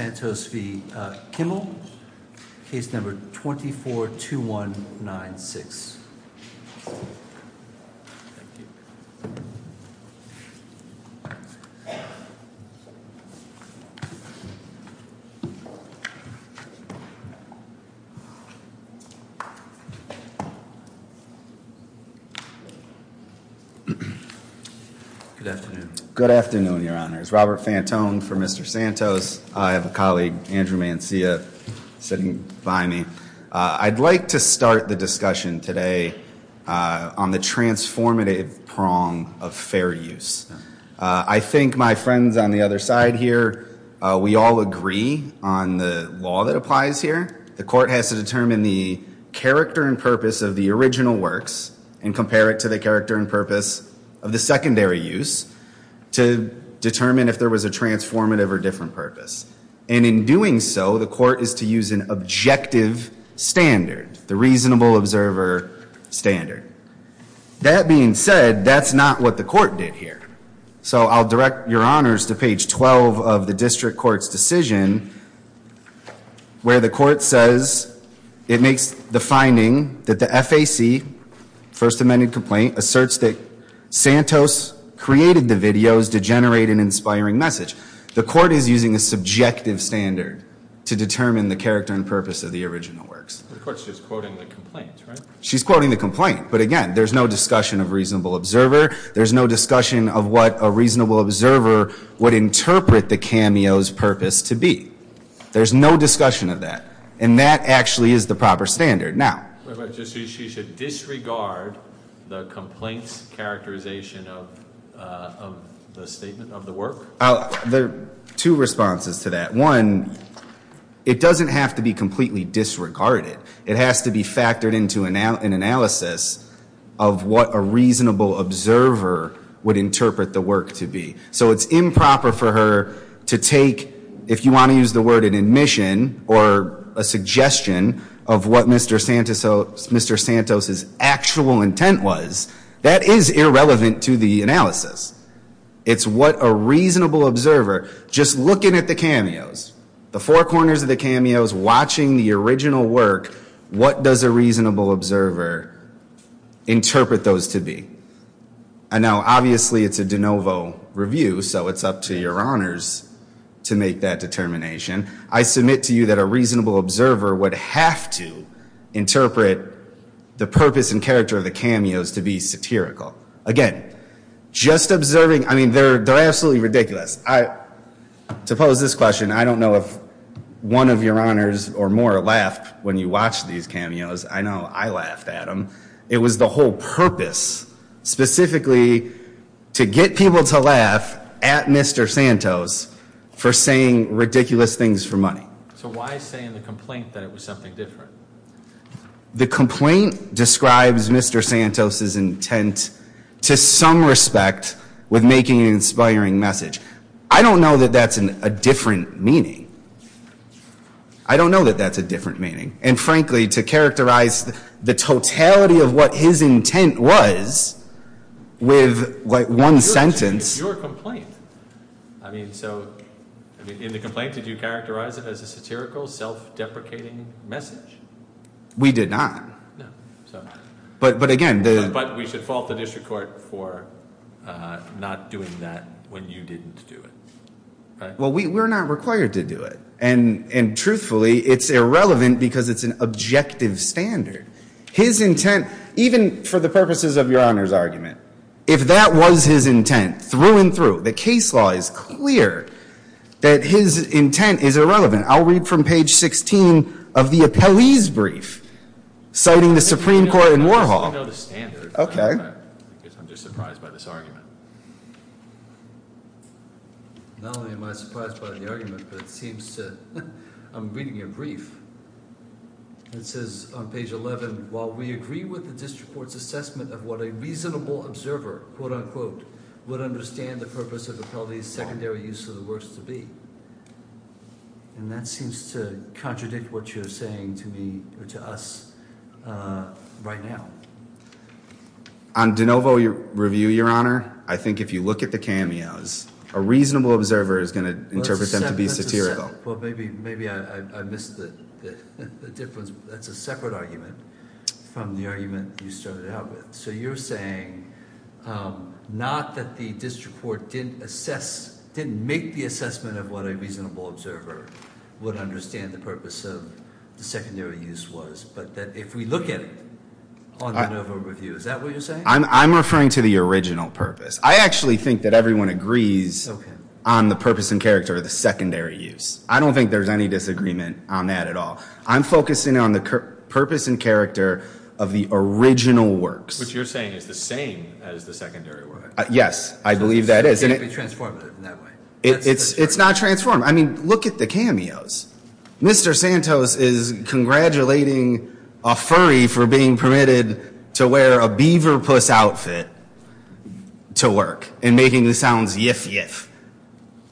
, case number 24-2196. Thank you. Good afternoon. Good afternoon, your honors. Robert Fantone for Mr. Santos. I have a colleague, Andrew Mancia, sitting by me. I'd like to start the discussion today on the transformative prong of fair use. I think my friends on the other side here, we all agree on the law that applies here. The court has to determine the character and purpose of the original works and compare it to the character and purpose of the secondary use to determine if there was a transformative or different purpose. And in doing so, the court is to use an objective standard, the reasonable observer standard. That being said, that's not what the court did here. So I'll direct your honors to page 12 of the district court's decision where the court says it makes the finding that the FAC, first amended complaint, asserts that Santos created the videos to generate an inspiring message. The court is using a subjective standard to determine the character and purpose of the original works. The court's just quoting the complaint, right? She's quoting the complaint. But again, there's no discussion of reasonable observer. There's no discussion of what a reasonable observer would interpret the cameo's purpose to be. There's no discussion of that. And that actually is the proper standard. Now- She should disregard the complaint's characterization of the statement of the work? There are two responses to that. One, it doesn't have to be completely disregarded. It has to be factored into an analysis of what a reasonable observer would interpret the work to be. So it's improper for her to take, if you want to use the word, an admission or a suggestion of what Mr. Santos's actual intent was. That is irrelevant to the analysis. It's what a reasonable observer, just looking at the cameos, the four corners of the cameos, watching the original work, what does a reasonable observer interpret those to be? And now, obviously, it's a de novo review, so it's up to your honors to make that determination. I submit to you that a reasonable observer would have to interpret the purpose and character of the cameos to be satirical. Again, just observing, I mean, they're absolutely ridiculous. To pose this question, I don't know if one of your honors or more laughed when you watched these cameos. I know I laughed at them. It was the whole purpose, specifically to get people to laugh at Mr. Santos for saying ridiculous things for money. So why is saying the complaint that it was something different? The complaint describes Mr. Santos's intent to some respect with making an inspiring message. I don't know that that's a different meaning. I don't know that that's a different meaning. And frankly, to characterize the totality of what his intent was with, like, one sentence. Your complaint. I mean, so in the complaint, did you characterize it as a satirical, self-deprecating message? We did not. No. But again. But we should fault the district court for not doing that when you didn't do it. Well, we're not required to do it. And truthfully, it's irrelevant because it's an objective standard. His intent, even for the purposes of your honors argument, if that was his intent through and through, the case law is clear that his intent is irrelevant. I'll read from page 16 of the appellee's brief citing the Supreme Court in Warhol. I know the standard. Okay. I'm just surprised by this argument. Not only am I surprised by the argument, but it seems to, I'm reading your brief. It says on page 11, while we agree with the district court's assessment of what a reasonable observer, quote unquote, would understand the purpose of appellee's secondary use of the words to be. And that seems to contradict what you're saying to me or to us right now. On de novo review, your honor, I think if you look at the cameos, a reasonable observer is going to interpret them to be satirical. Well, maybe I missed the difference. That's a separate argument from the argument you started out with. So you're saying not that the district court didn't assess, didn't make the assessment of what a reasonable observer would understand the purpose of the secondary use was. But that if we look at it on de novo review, is that what you're saying? I'm referring to the original purpose. I actually think that everyone agrees on the purpose and character of the secondary use. I don't think there's any disagreement on that at all. I'm focusing on the purpose and character of the original works. Which you're saying is the same as the secondary works. Yes, I believe that is. It can't be transformative in that way. It's not transformative. I mean, look at the cameos. Mr. Santos is congratulating a furry for being permitted to wear a beaver puss outfit to work and making the sounds yiff yiff.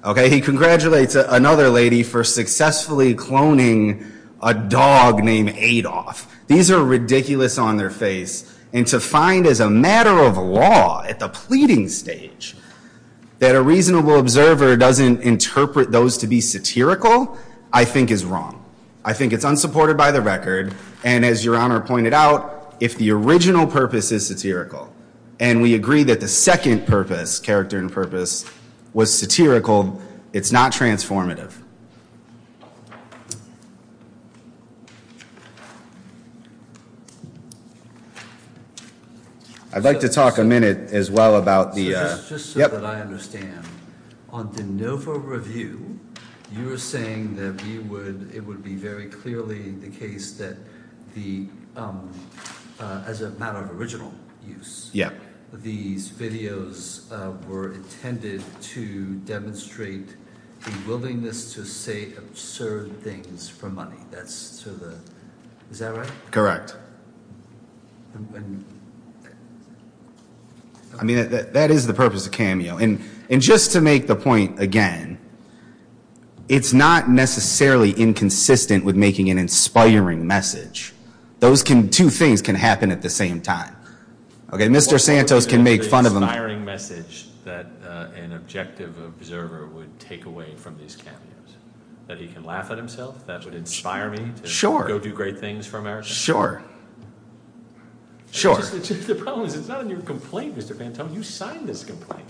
Okay, he congratulates another lady for successfully cloning a dog named Adolph. These are ridiculous on their face. And to find as a matter of law at the pleading stage that a reasonable observer doesn't interpret those to be satirical, I think is wrong. I think it's unsupported by the record. And as your honor pointed out, if the original purpose is satirical, and we agree that the second purpose, character and purpose, was satirical, it's not transformative. I'd like to talk a minute as well about the. I understand. No for review. You were saying that we would. It would be very clearly the case that the as a matter of original use. These videos were intended to demonstrate the willingness to say absurd things for money. Is that right? I mean, that is the purpose of cameo. And just to make the point again, it's not necessarily inconsistent with making an inspiring message. Those two things can happen at the same time. Okay, Mr. Santos can make fun of them. Inspiring message that an objective observer would take away from these cameos. That he can laugh at himself, that would inspire me to go do great things for America. Sure. Sure. The problem is it's not in your complaint, Mr. Vantone. You signed this complaint.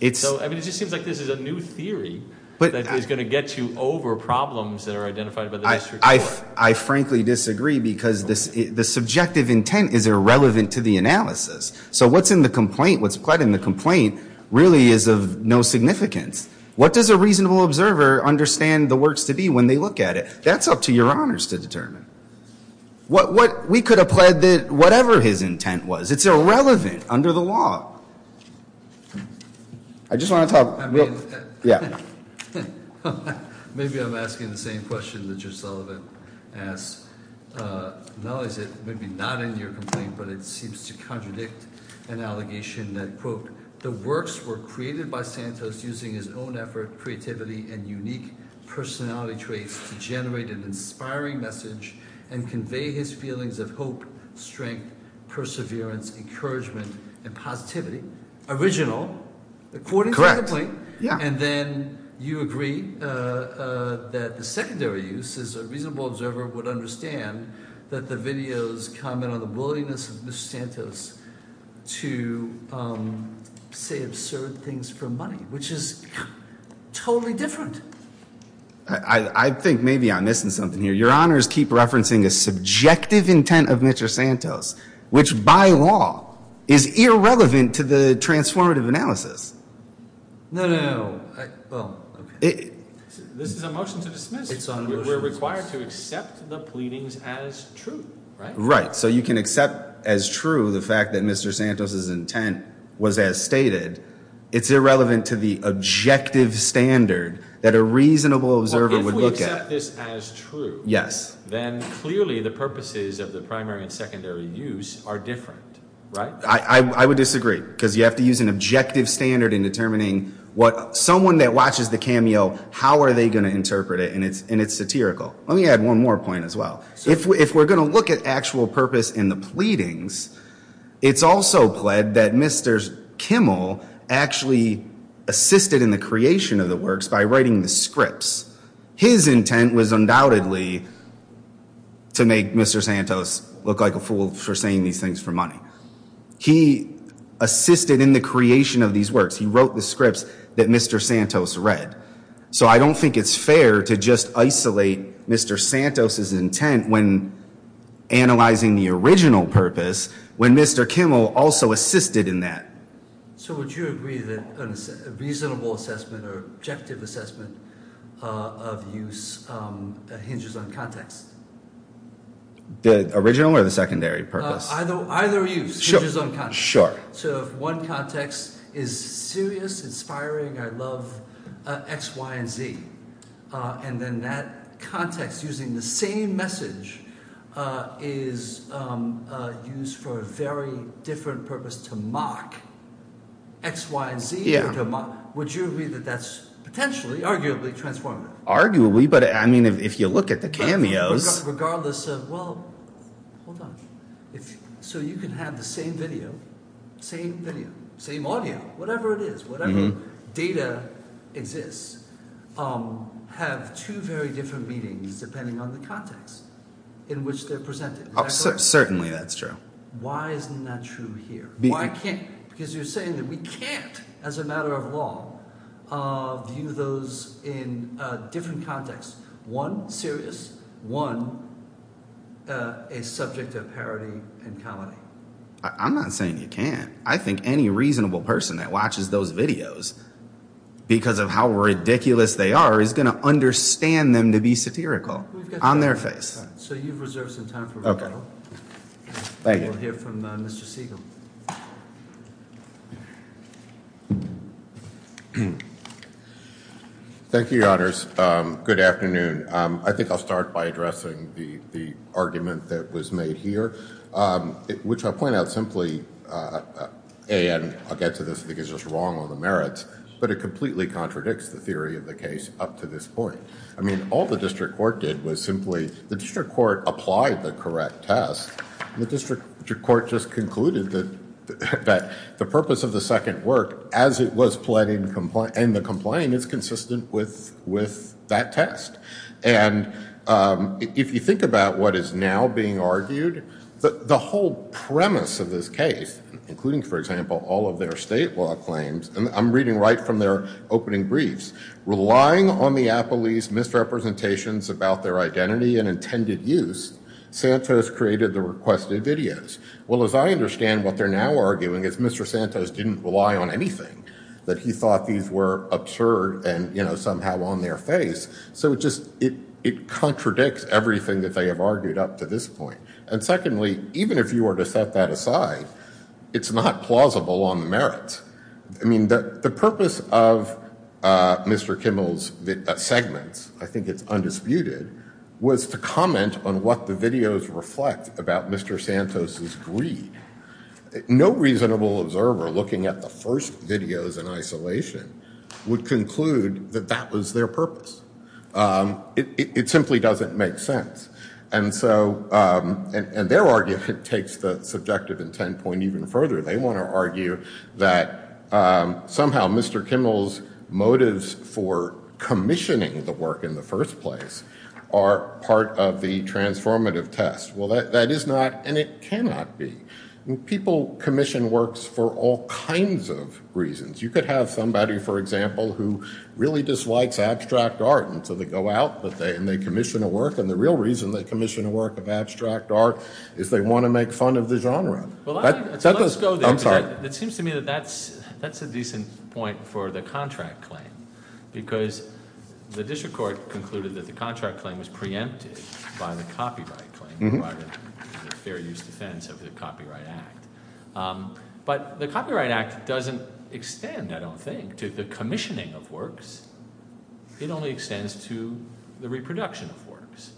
I mean, it just seems like this is a new theory that is going to get you over problems that are identified by the district court. I frankly disagree because the subjective intent is irrelevant to the analysis. So what's in the complaint, what's pled in the complaint really is of no significance. What does a reasonable observer understand the works to be when they look at it? That's up to your honors to determine. We could have pled whatever his intent was. It's irrelevant under the law. I just want to talk. Yeah. Maybe I'm asking the same question that Judge Sullivan asked. Not only is it maybe not in your complaint, but it seems to contradict an allegation that, quote, the works were created by Santos using his own effort, creativity, and unique personality traits to generate an inspiring message and convey his feelings of hope, strength, perseverance, encouragement, and positivity. Original, according to the complaint. And then you agree that the secondary use is a reasonable observer would understand that the videos comment on the willingness of Mr. Santos to say absurd things for money, which is totally different. I think maybe I'm missing something here. Your honors keep referencing a subjective intent of Mr. Santos, which by law is irrelevant to the transformative analysis. No, no, no. This is a motion to dismiss. We're required to accept the pleadings as true. Right. So you can accept as true the fact that Mr. Santos's intent was as stated. It's irrelevant to the objective standard that a reasonable observer would look at. Yes. Then clearly the purposes of the primary and secondary use are different. Right. I would disagree because you have to use an objective standard in determining what someone that watches the cameo, how are they going to interpret it? And it's and it's satirical. Let me add one more point as well. If we're going to look at actual purpose in the pleadings, it's also pled that Mr. Kimmel actually assisted in the creation of the works by writing the scripts. His intent was undoubtedly to make Mr. Santos look like a fool for saying these things for money. He assisted in the creation of these works. He wrote the scripts that Mr. Santos read. So I don't think it's fair to just isolate Mr. Santos's intent when analyzing the original purpose when Mr. Kimmel also assisted in that. So would you agree that a reasonable assessment or objective assessment of use hinges on context? The original or the secondary purpose? Either use hinges on context. Sure. So if one context is serious, inspiring, I love X, Y, and Z. And then that context using the same message is used for a very different purpose to mock X, Y, and Z. Would you agree that that's potentially arguably transformative? Arguably. But I mean, if you look at the cameos. Regardless of, well, hold on. So you can have the same video, same video, same audio, whatever it is, whatever data exists, have two very different meanings depending on the context in which they're presented. Certainly, that's true. Why isn't that true here? Because you're saying that we can't, as a matter of law, view those in different contexts. One, serious. One, a subject of parody and comedy. I'm not saying you can't. I think any reasonable person that watches those videos, because of how ridiculous they are, is going to understand them to be satirical on their face. So you've reserved some time for rebuttal. Thank you. We'll hear from Mr. Siegel. Thank you, Your Honors. Good afternoon. I think I'll start by addressing the argument that was made here, which I'll point out simply, and I'll get to this because it's wrong on the merits, but it completely contradicts the theory of the case up to this point. I mean, all the district court did was simply, the district court applied the correct test. The district court just concluded that the purpose of the second work, as it was pled in the complaint, is consistent with that test. And if you think about what is now being argued, the whole premise of this case, including, for example, all of their state law claims, and I'm reading right from their opening briefs. Relying on the appellee's misrepresentations about their identity and intended use, Santos created the requested videos. Well, as I understand, what they're now arguing is Mr. Santos didn't rely on anything, that he thought these were absurd and, you know, somehow on their face. So it just, it contradicts everything that they have argued up to this point. And secondly, even if you were to set that aside, it's not plausible on the merits. I mean, the purpose of Mr. Kimmel's segments, I think it's undisputed, was to comment on what the videos reflect about Mr. Santos' greed. No reasonable observer looking at the first videos in isolation would conclude that that was their purpose. It simply doesn't make sense. And so, and their argument takes the subjective intent point even further. They want to argue that somehow Mr. Kimmel's motives for commissioning the work in the first place are part of the transformative test. Well, that is not, and it cannot be. People commission works for all kinds of reasons. You could have somebody, for example, who really dislikes abstract art, and so they go out and they commission a work. And the real reason they commission a work of abstract art is they want to make fun of the genre. Well, let's go there. It seems to me that that's a decent point for the contract claim. Because the district court concluded that the contract claim was preempted by the copyright claim in the fair use defense of the Copyright Act. But the Copyright Act doesn't extend, I don't think, to the commissioning of works. It only extends to the reproduction of works.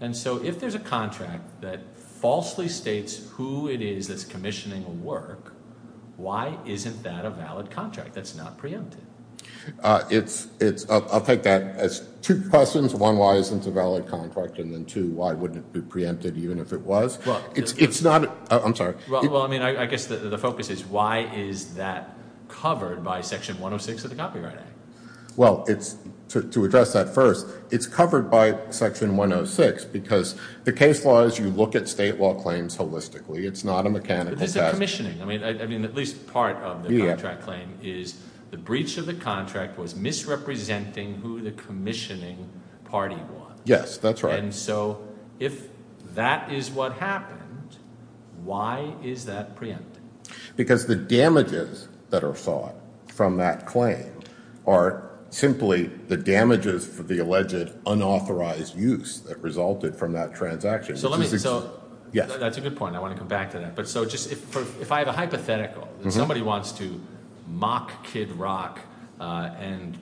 And so if there's a contract that falsely states who it is that's commissioning a work, why isn't that a valid contract that's not preempted? It's, I'll take that as two questions. One, why isn't it a valid contract? And then two, why wouldn't it be preempted even if it was? It's not, I'm sorry. Well, I mean, I guess the focus is why is that covered by Section 106 of the Copyright Act? Well, to address that first, it's covered by Section 106 because the case law is you look at state law claims holistically. It's not a mechanical task. But this is commissioning. I mean, at least part of the contract claim is the breach of the contract was misrepresenting who the commissioning party was. Yes, that's right. And so if that is what happened, why is that preempted? Because the damages that are sought from that claim are simply the damages for the alleged unauthorized use that resulted from that transaction. So let me, so that's a good point. I want to come back to that. But so just if I have a hypothetical, if somebody wants to mock Kid Rock and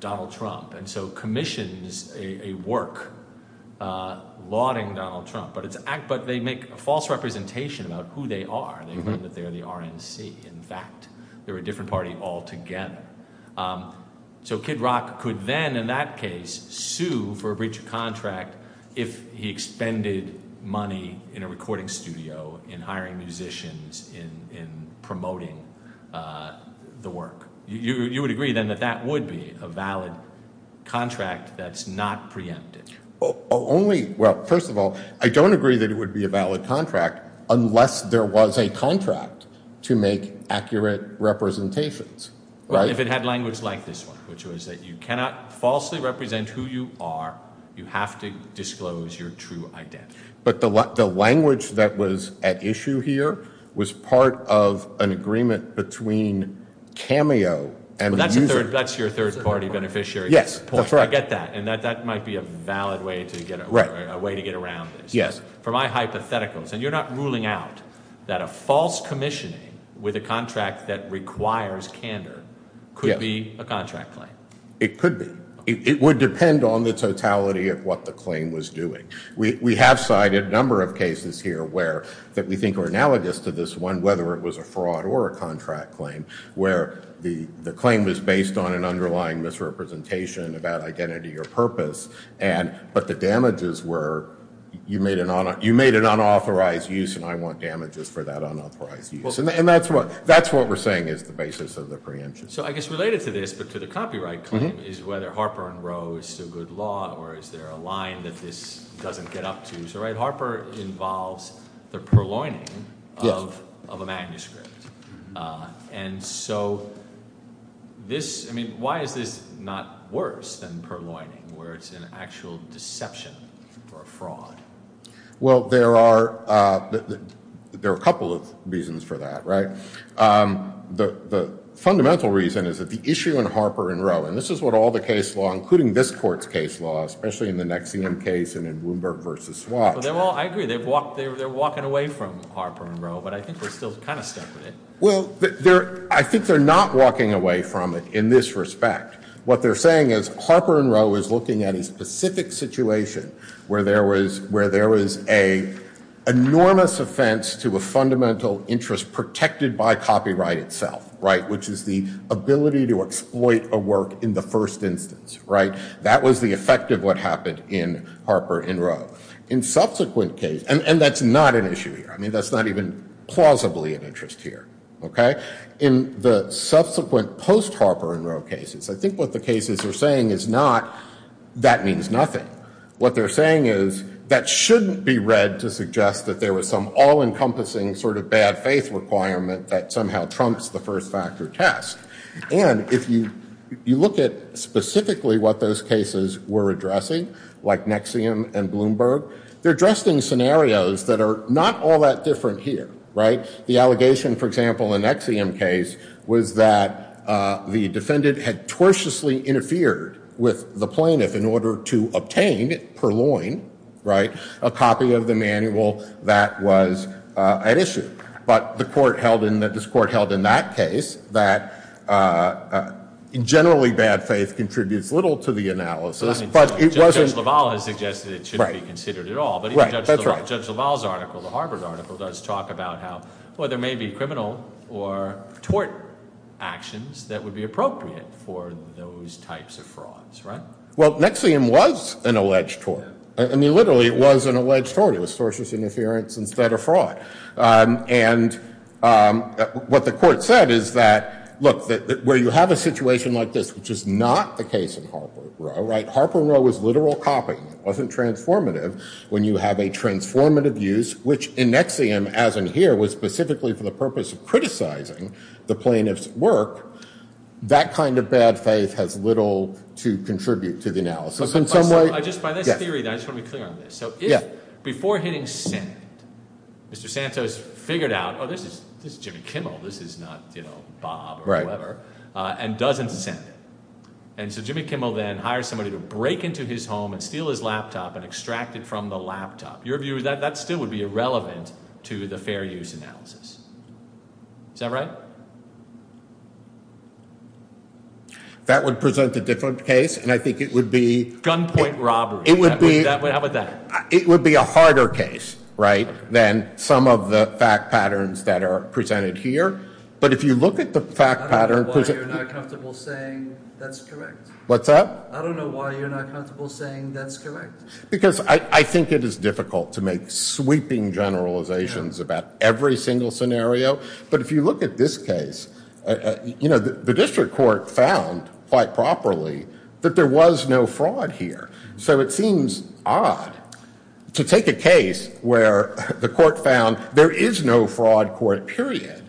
Donald Trump and so commissions a work lauding Donald Trump, but they make a false representation about who they are. They mean that they're the RNC. In fact, they're a different party altogether. So Kid Rock could then, in that case, sue for a breach of contract if he expended money in a recording studio, in hiring musicians, in promoting the work. You would agree then that that would be a valid contract that's not preempted? Well, first of all, I don't agree that it would be a valid contract unless there was a contract to make accurate representations. If it had language like this one, which was that you cannot falsely represent who you are, you have to disclose your true identity. But the language that was at issue here was part of an agreement between Cameo and the user. That's your third party beneficiary. Yes, that's right. I get that. And that might be a valid way to get around this. Yes. For my hypotheticals, and you're not ruling out that a false commissioning with a contract that requires candor could be a contract claim. It could be. It would depend on the totality of what the claim was doing. We have cited a number of cases here that we think are analogous to this one, whether it was a fraud or a contract claim, where the claim was based on an underlying misrepresentation about identity or purpose, but the damages were, you made an unauthorized use and I want damages for that unauthorized use. And that's what we're saying is the basis of the preemption. So I guess related to this, but to the copyright claim is whether Harper and Roe is still good law or is there a line that this doesn't get up to. So Harper involves the purloining of a manuscript. And so this I mean, why is this not worse than purloining where it's an actual deception or a fraud? Well, there are a couple of reasons for that. The fundamental reason is that the issue in Harper and Roe, and this is what all the case law, including this court's case law, especially in the NXIVM case and in Bloomberg versus Swatch. Well, I agree. They're walking away from Harper and Roe, but I think they're still kind of stuck with it. Well, I think they're not walking away from it in this respect. What they're saying is Harper and Roe is looking at a specific situation where there was an enormous offense to a fundamental interest, which is protected by copyright itself, which is the ability to exploit a work in the first instance. That was the effect of what happened in Harper and Roe. In subsequent cases, and that's not an issue here. I mean, that's not even plausibly an interest here. In the subsequent post-Harper and Roe cases, I think what the cases are saying is not that means nothing. What they're saying is that shouldn't be read to suggest that there was some all-encompassing sort of bad faith requirement that somehow trumps the first factor test. And if you look at specifically what those cases were addressing, like NXIVM and Bloomberg, they're addressing scenarios that are not all that different here, right? The allegation, for example, in the NXIVM case was that the defendant had tortiously interfered with the plaintiff in order to obtain, per loin, right, a copy of the manual that was at issue. But the court held in that case that generally bad faith contributes little to the analysis. Judge LaValle has suggested it shouldn't be considered at all. But even Judge LaValle's article, the Harper article, does talk about how, well, there may be criminal or tort actions that would be appropriate for those types of frauds, right? Well, NXIVM was an alleged tort. I mean, literally, it was an alleged tort. It was tortious interference instead of fraud. And what the court said is that, look, where you have a situation like this, which is not the case in Harper and Rowe, right? Harper and Rowe was literal copying. It wasn't transformative. When you have a transformative use, which in NXIVM, as in here, was specifically for the purpose of criticizing the plaintiff's work, that kind of bad faith has little to contribute to the analysis in some way. So just by this theory, I just want to be clear on this. So if before hitting send, Mr. Santos figured out, oh, this is Jimmy Kimmel. This is not Bob or whoever, and doesn't send it. And so Jimmy Kimmel then hires somebody to break into his home and steal his laptop and extract it from the laptop. Your view is that that still would be irrelevant to the fair use analysis. Is that right? That would present a different case. Gunpoint robbery. How about that? It would be a harder case than some of the fact patterns that are presented here. But if you look at the fact pattern. I don't know why you're not comfortable saying that's correct. What's that? I don't know why you're not comfortable saying that's correct. Because I think it is difficult to make sweeping generalizations about every single scenario. But if you look at this case, you know, the district court found quite properly that there was no fraud here. So it seems odd to take a case where the court found there is no fraud court, period,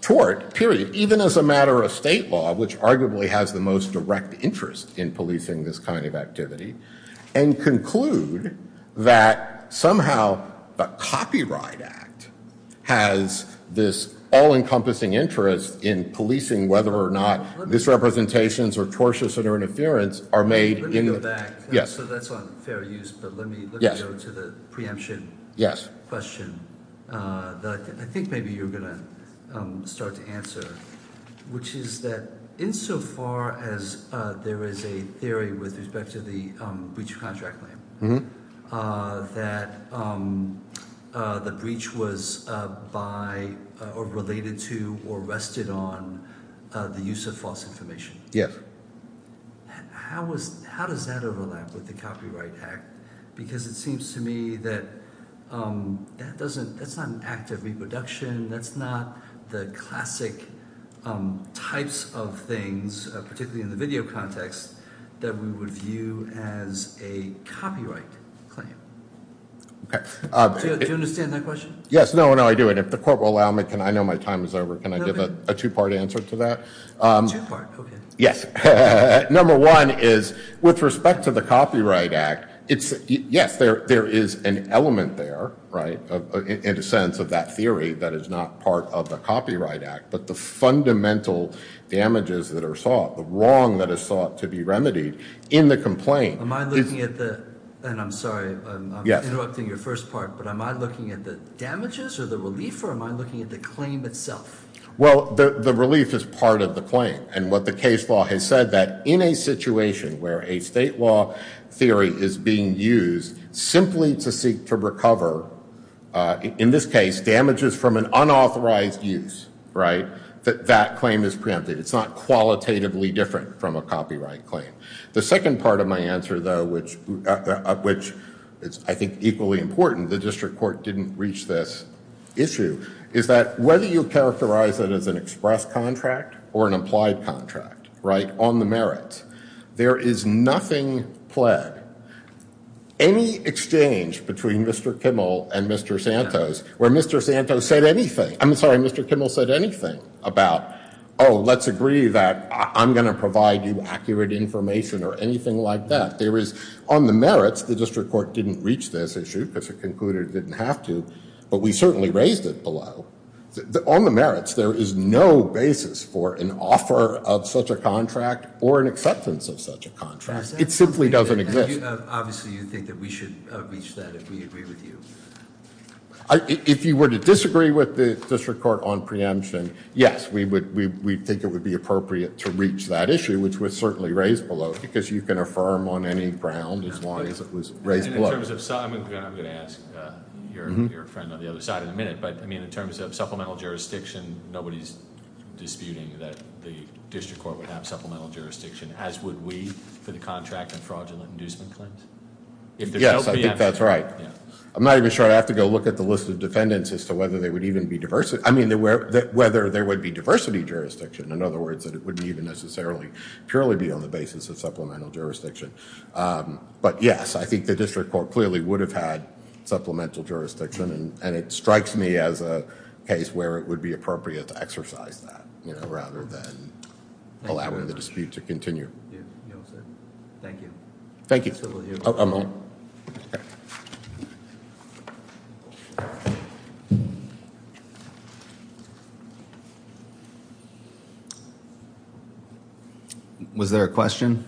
tort, period, even as a matter of state law, which arguably has the most direct interest in policing this kind of activity, and conclude that somehow the Copyright Act has this all-encompassing interest in policing whether or not misrepresentations or tortious interference are made. Let me go back. So that's on fair use, but let me go to the preemption question that I think maybe you're going to start to answer, which is that insofar as there is a theory with respect to the breach of contract claim, that the breach was by or related to or rested on the use of false information. Yes. How does that overlap with the Copyright Act? Because it seems to me that that's not an act of reproduction. That's not the classic types of things, particularly in the video context, that we would view as a copyright claim. Do you understand that question? Yes. No, no, I do. And if the court will allow me, I know my time is over. Can I give a two-part answer to that? Two-part, okay. Yes. Number one is with respect to the Copyright Act, yes, there is an element there, right, in a sense of that theory that is not part of the Copyright Act, but the fundamental damages that are sought, the wrong that is sought to be remedied in the complaint. Am I looking at the – and I'm sorry, I'm interrupting your first part, but am I looking at the damages or the relief or am I looking at the claim itself? Well, the relief is part of the claim, and what the case law has said, that in a situation where a state law theory is being used simply to seek to recover, in this case, damages from an unauthorized use, right, that that claim is preempted. It's not qualitatively different from a copyright claim. The second part of my answer, though, which I think is equally important, and the district court didn't reach this issue, is that whether you characterize it as an express contract or an applied contract, right, on the merits, there is nothing pled, any exchange between Mr. Kimmel and Mr. Santos, where Mr. Santos said anything – I'm sorry, Mr. Kimmel said anything about, oh, let's agree that I'm going to provide you accurate information or anything like that. There is, on the merits, the district court didn't reach this issue because it concluded it didn't have to, but we certainly raised it below. On the merits, there is no basis for an offer of such a contract or an acceptance of such a contract. It simply doesn't exist. Obviously, you think that we should reach that if we agree with you. If you were to disagree with the district court on preemption, yes, we think it would be appropriate to reach that issue, which was certainly raised below, because you can affirm on any ground as long as it was raised below. I'm going to ask your friend on the other side in a minute, but, I mean, in terms of supplemental jurisdiction, nobody's disputing that the district court would have supplemental jurisdiction, as would we for the contract and fraudulent inducement claims. Yes, I think that's right. I'm not even sure. I'd have to go look at the list of defendants as to whether there would even be diversity – I mean, whether there would be diversity jurisdiction, in other words, that it wouldn't even necessarily purely be on the basis of supplemental jurisdiction. But, yes, I think the district court clearly would have had supplemental jurisdiction, and it strikes me as a case where it would be appropriate to exercise that, rather than allowing the dispute to continue. Thank you. Thank you. I'm on. Was there a question?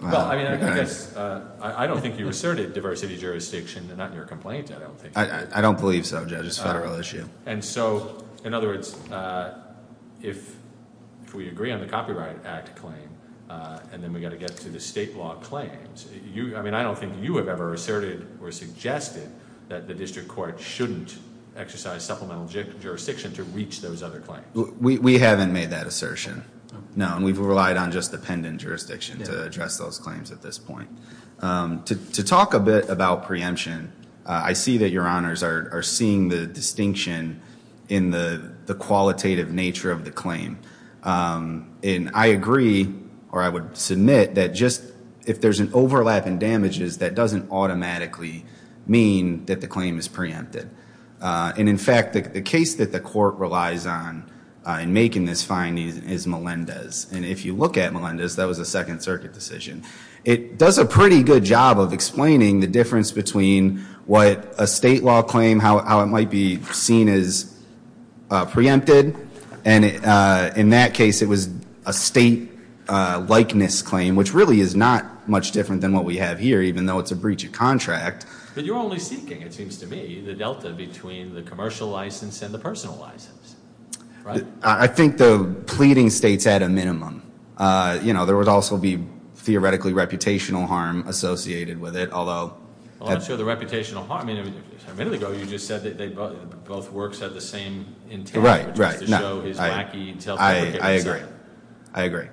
Well, I mean, I guess I don't think you asserted diversity jurisdiction, not in your complaint. I don't believe so, Judge. It's a federal issue. And so, in other words, if we agree on the Copyright Act claim and then we've got to get to the state law claims, I mean, I don't think you have ever asserted or suggested that the district court shouldn't exercise supplemental jurisdiction to reach those other claims. We haven't made that assertion, no, and we've relied on just the pendant jurisdiction to address those claims at this point. To talk a bit about preemption, I see that your honors are seeing the distinction in the qualitative nature of the claim. And I agree, or I would submit, that just if there's an overlap in damages, that doesn't automatically mean that the claim is preempted. And, in fact, the case that the court relies on in making this finding is Melendez. And if you look at Melendez, that was a Second Circuit decision. It does a pretty good job of explaining the difference between what a state law claim, how it might be seen as preempted. And in that case, it was a state likeness claim, which really is not much different than what we have here, even though it's a breach of contract. But you're only seeking, it seems to me, the delta between the commercial license and the personal license, right? I think the pleading states had a minimum. You know, there would also be theoretically reputational harm associated with it, although. Well, I'm not sure of the reputational harm. I mean, a minute ago, you just said that both works had the same intent. Right, right. Just to show his wacky intelligence. I agree. I agree.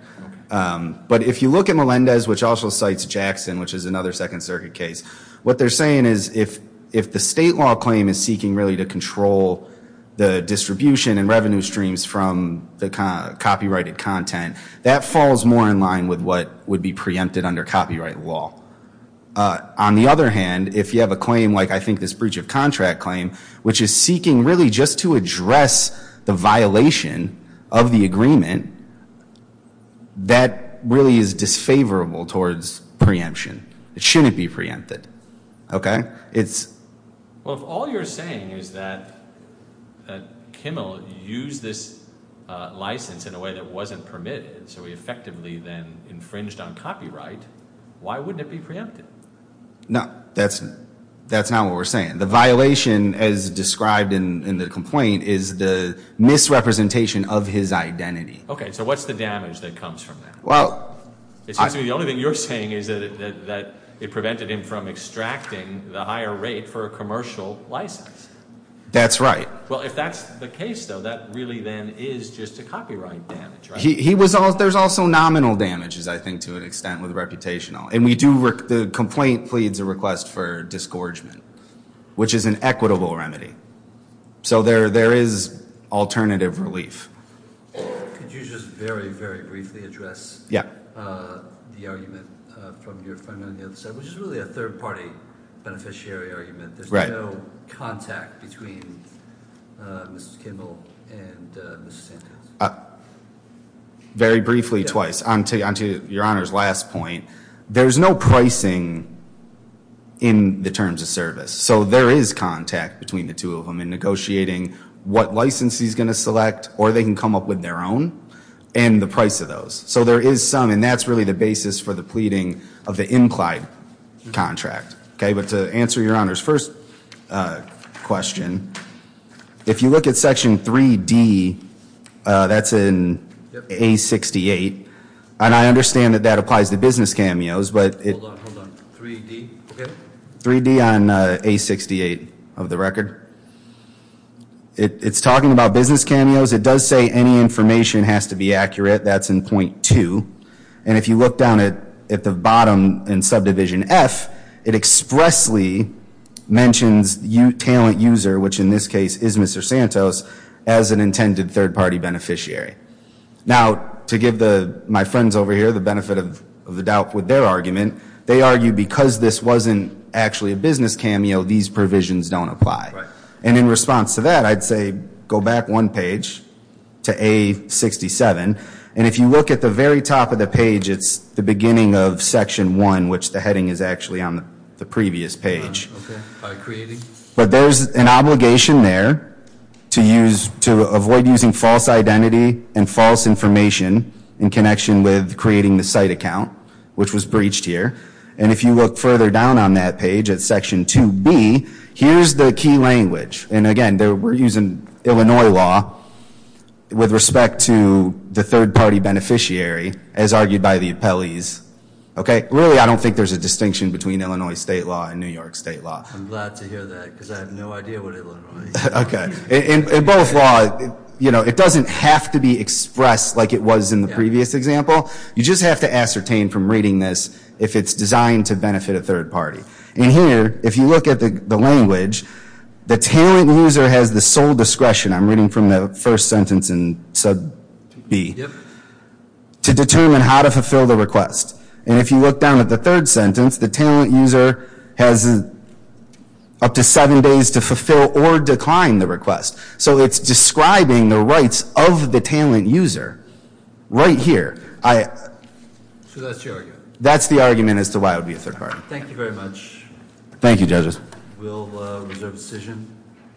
But if you look at Melendez, which also cites Jackson, which is another Second Circuit case, what they're saying is if the state law claim is seeking, really, to control the distribution and revenue streams from the copyrighted content, that falls more in line with what would be preempted under copyright law. On the other hand, if you have a claim like, I think, this breach of contract claim, which is seeking, really, just to address the violation of the agreement, that really is disfavorable towards preemption. It shouldn't be preempted. Okay? Well, if all you're saying is that Kimmel used this license in a way that wasn't permitted, so he effectively then infringed on copyright, why wouldn't it be preempted? No. That's not what we're saying. The violation, as described in the complaint, is the misrepresentation of his identity. Okay. So what's the damage that comes from that? Well. It seems to me the only thing you're saying is that it prevented him from extracting the higher rate for a commercial license. That's right. Well, if that's the case, though, that really then is just a copyright damage, right? There's also nominal damages, I think, to an extent, with reputational. And the complaint pleads a request for disgorgement, which is an equitable remedy. So there is alternative relief. Could you just very, very briefly address the argument from your friend on the other side, which is really a third-party beneficiary argument? Right. There is no contact between Mrs. Kimball and Mrs. Santos? Very briefly, twice. Onto your Honor's last point. There's no pricing in the terms of service. So there is contact between the two of them in negotiating what license he's going to select, or they can come up with their own, and the price of those. So there is some, and that's really the basis for the pleading of the implied contract. Okay. But to answer your Honor's first question, if you look at Section 3D, that's in A68, and I understand that that applies to business cameos. Hold on, hold on. 3D? Okay. 3D on A68 of the record. It's talking about business cameos. It does say any information has to be accurate. That's in Point 2. And if you look down at the bottom in Subdivision F, it expressly mentions talent user, which in this case is Mr. Santos, as an intended third-party beneficiary. Now, to give my friends over here the benefit of the doubt with their argument, they argue because this wasn't actually a business cameo, these provisions don't apply. And in response to that, I'd say go back one page to A67, and if you look at the very top of the page, it's the beginning of Section 1, which the heading is actually on the previous page. Okay. By creating? But there's an obligation there to avoid using false identity and false information in connection with creating the site account, which was breached here. And if you look further down on that page at Section 2B, here's the key language. And, again, we're using Illinois law with respect to the third-party beneficiary as argued by the appellees. Okay? Really, I don't think there's a distinction between Illinois state law and New York state law. I'm glad to hear that because I have no idea what Illinois is. Okay. In both law, you know, it doesn't have to be expressed like it was in the previous example. You just have to ascertain from reading this if it's designed to benefit a third party. And here, if you look at the language, the talent user has the sole discretion, I'm reading from the first sentence in Sub B, to determine how to fulfill the request. And if you look down at the third sentence, the talent user has up to seven days to fulfill or decline the request. So it's describing the rights of the talent user right here. So that's the argument. That's the argument as to why it would be a third party. Thank you very much. Thank you, judges. We'll reserve a decision.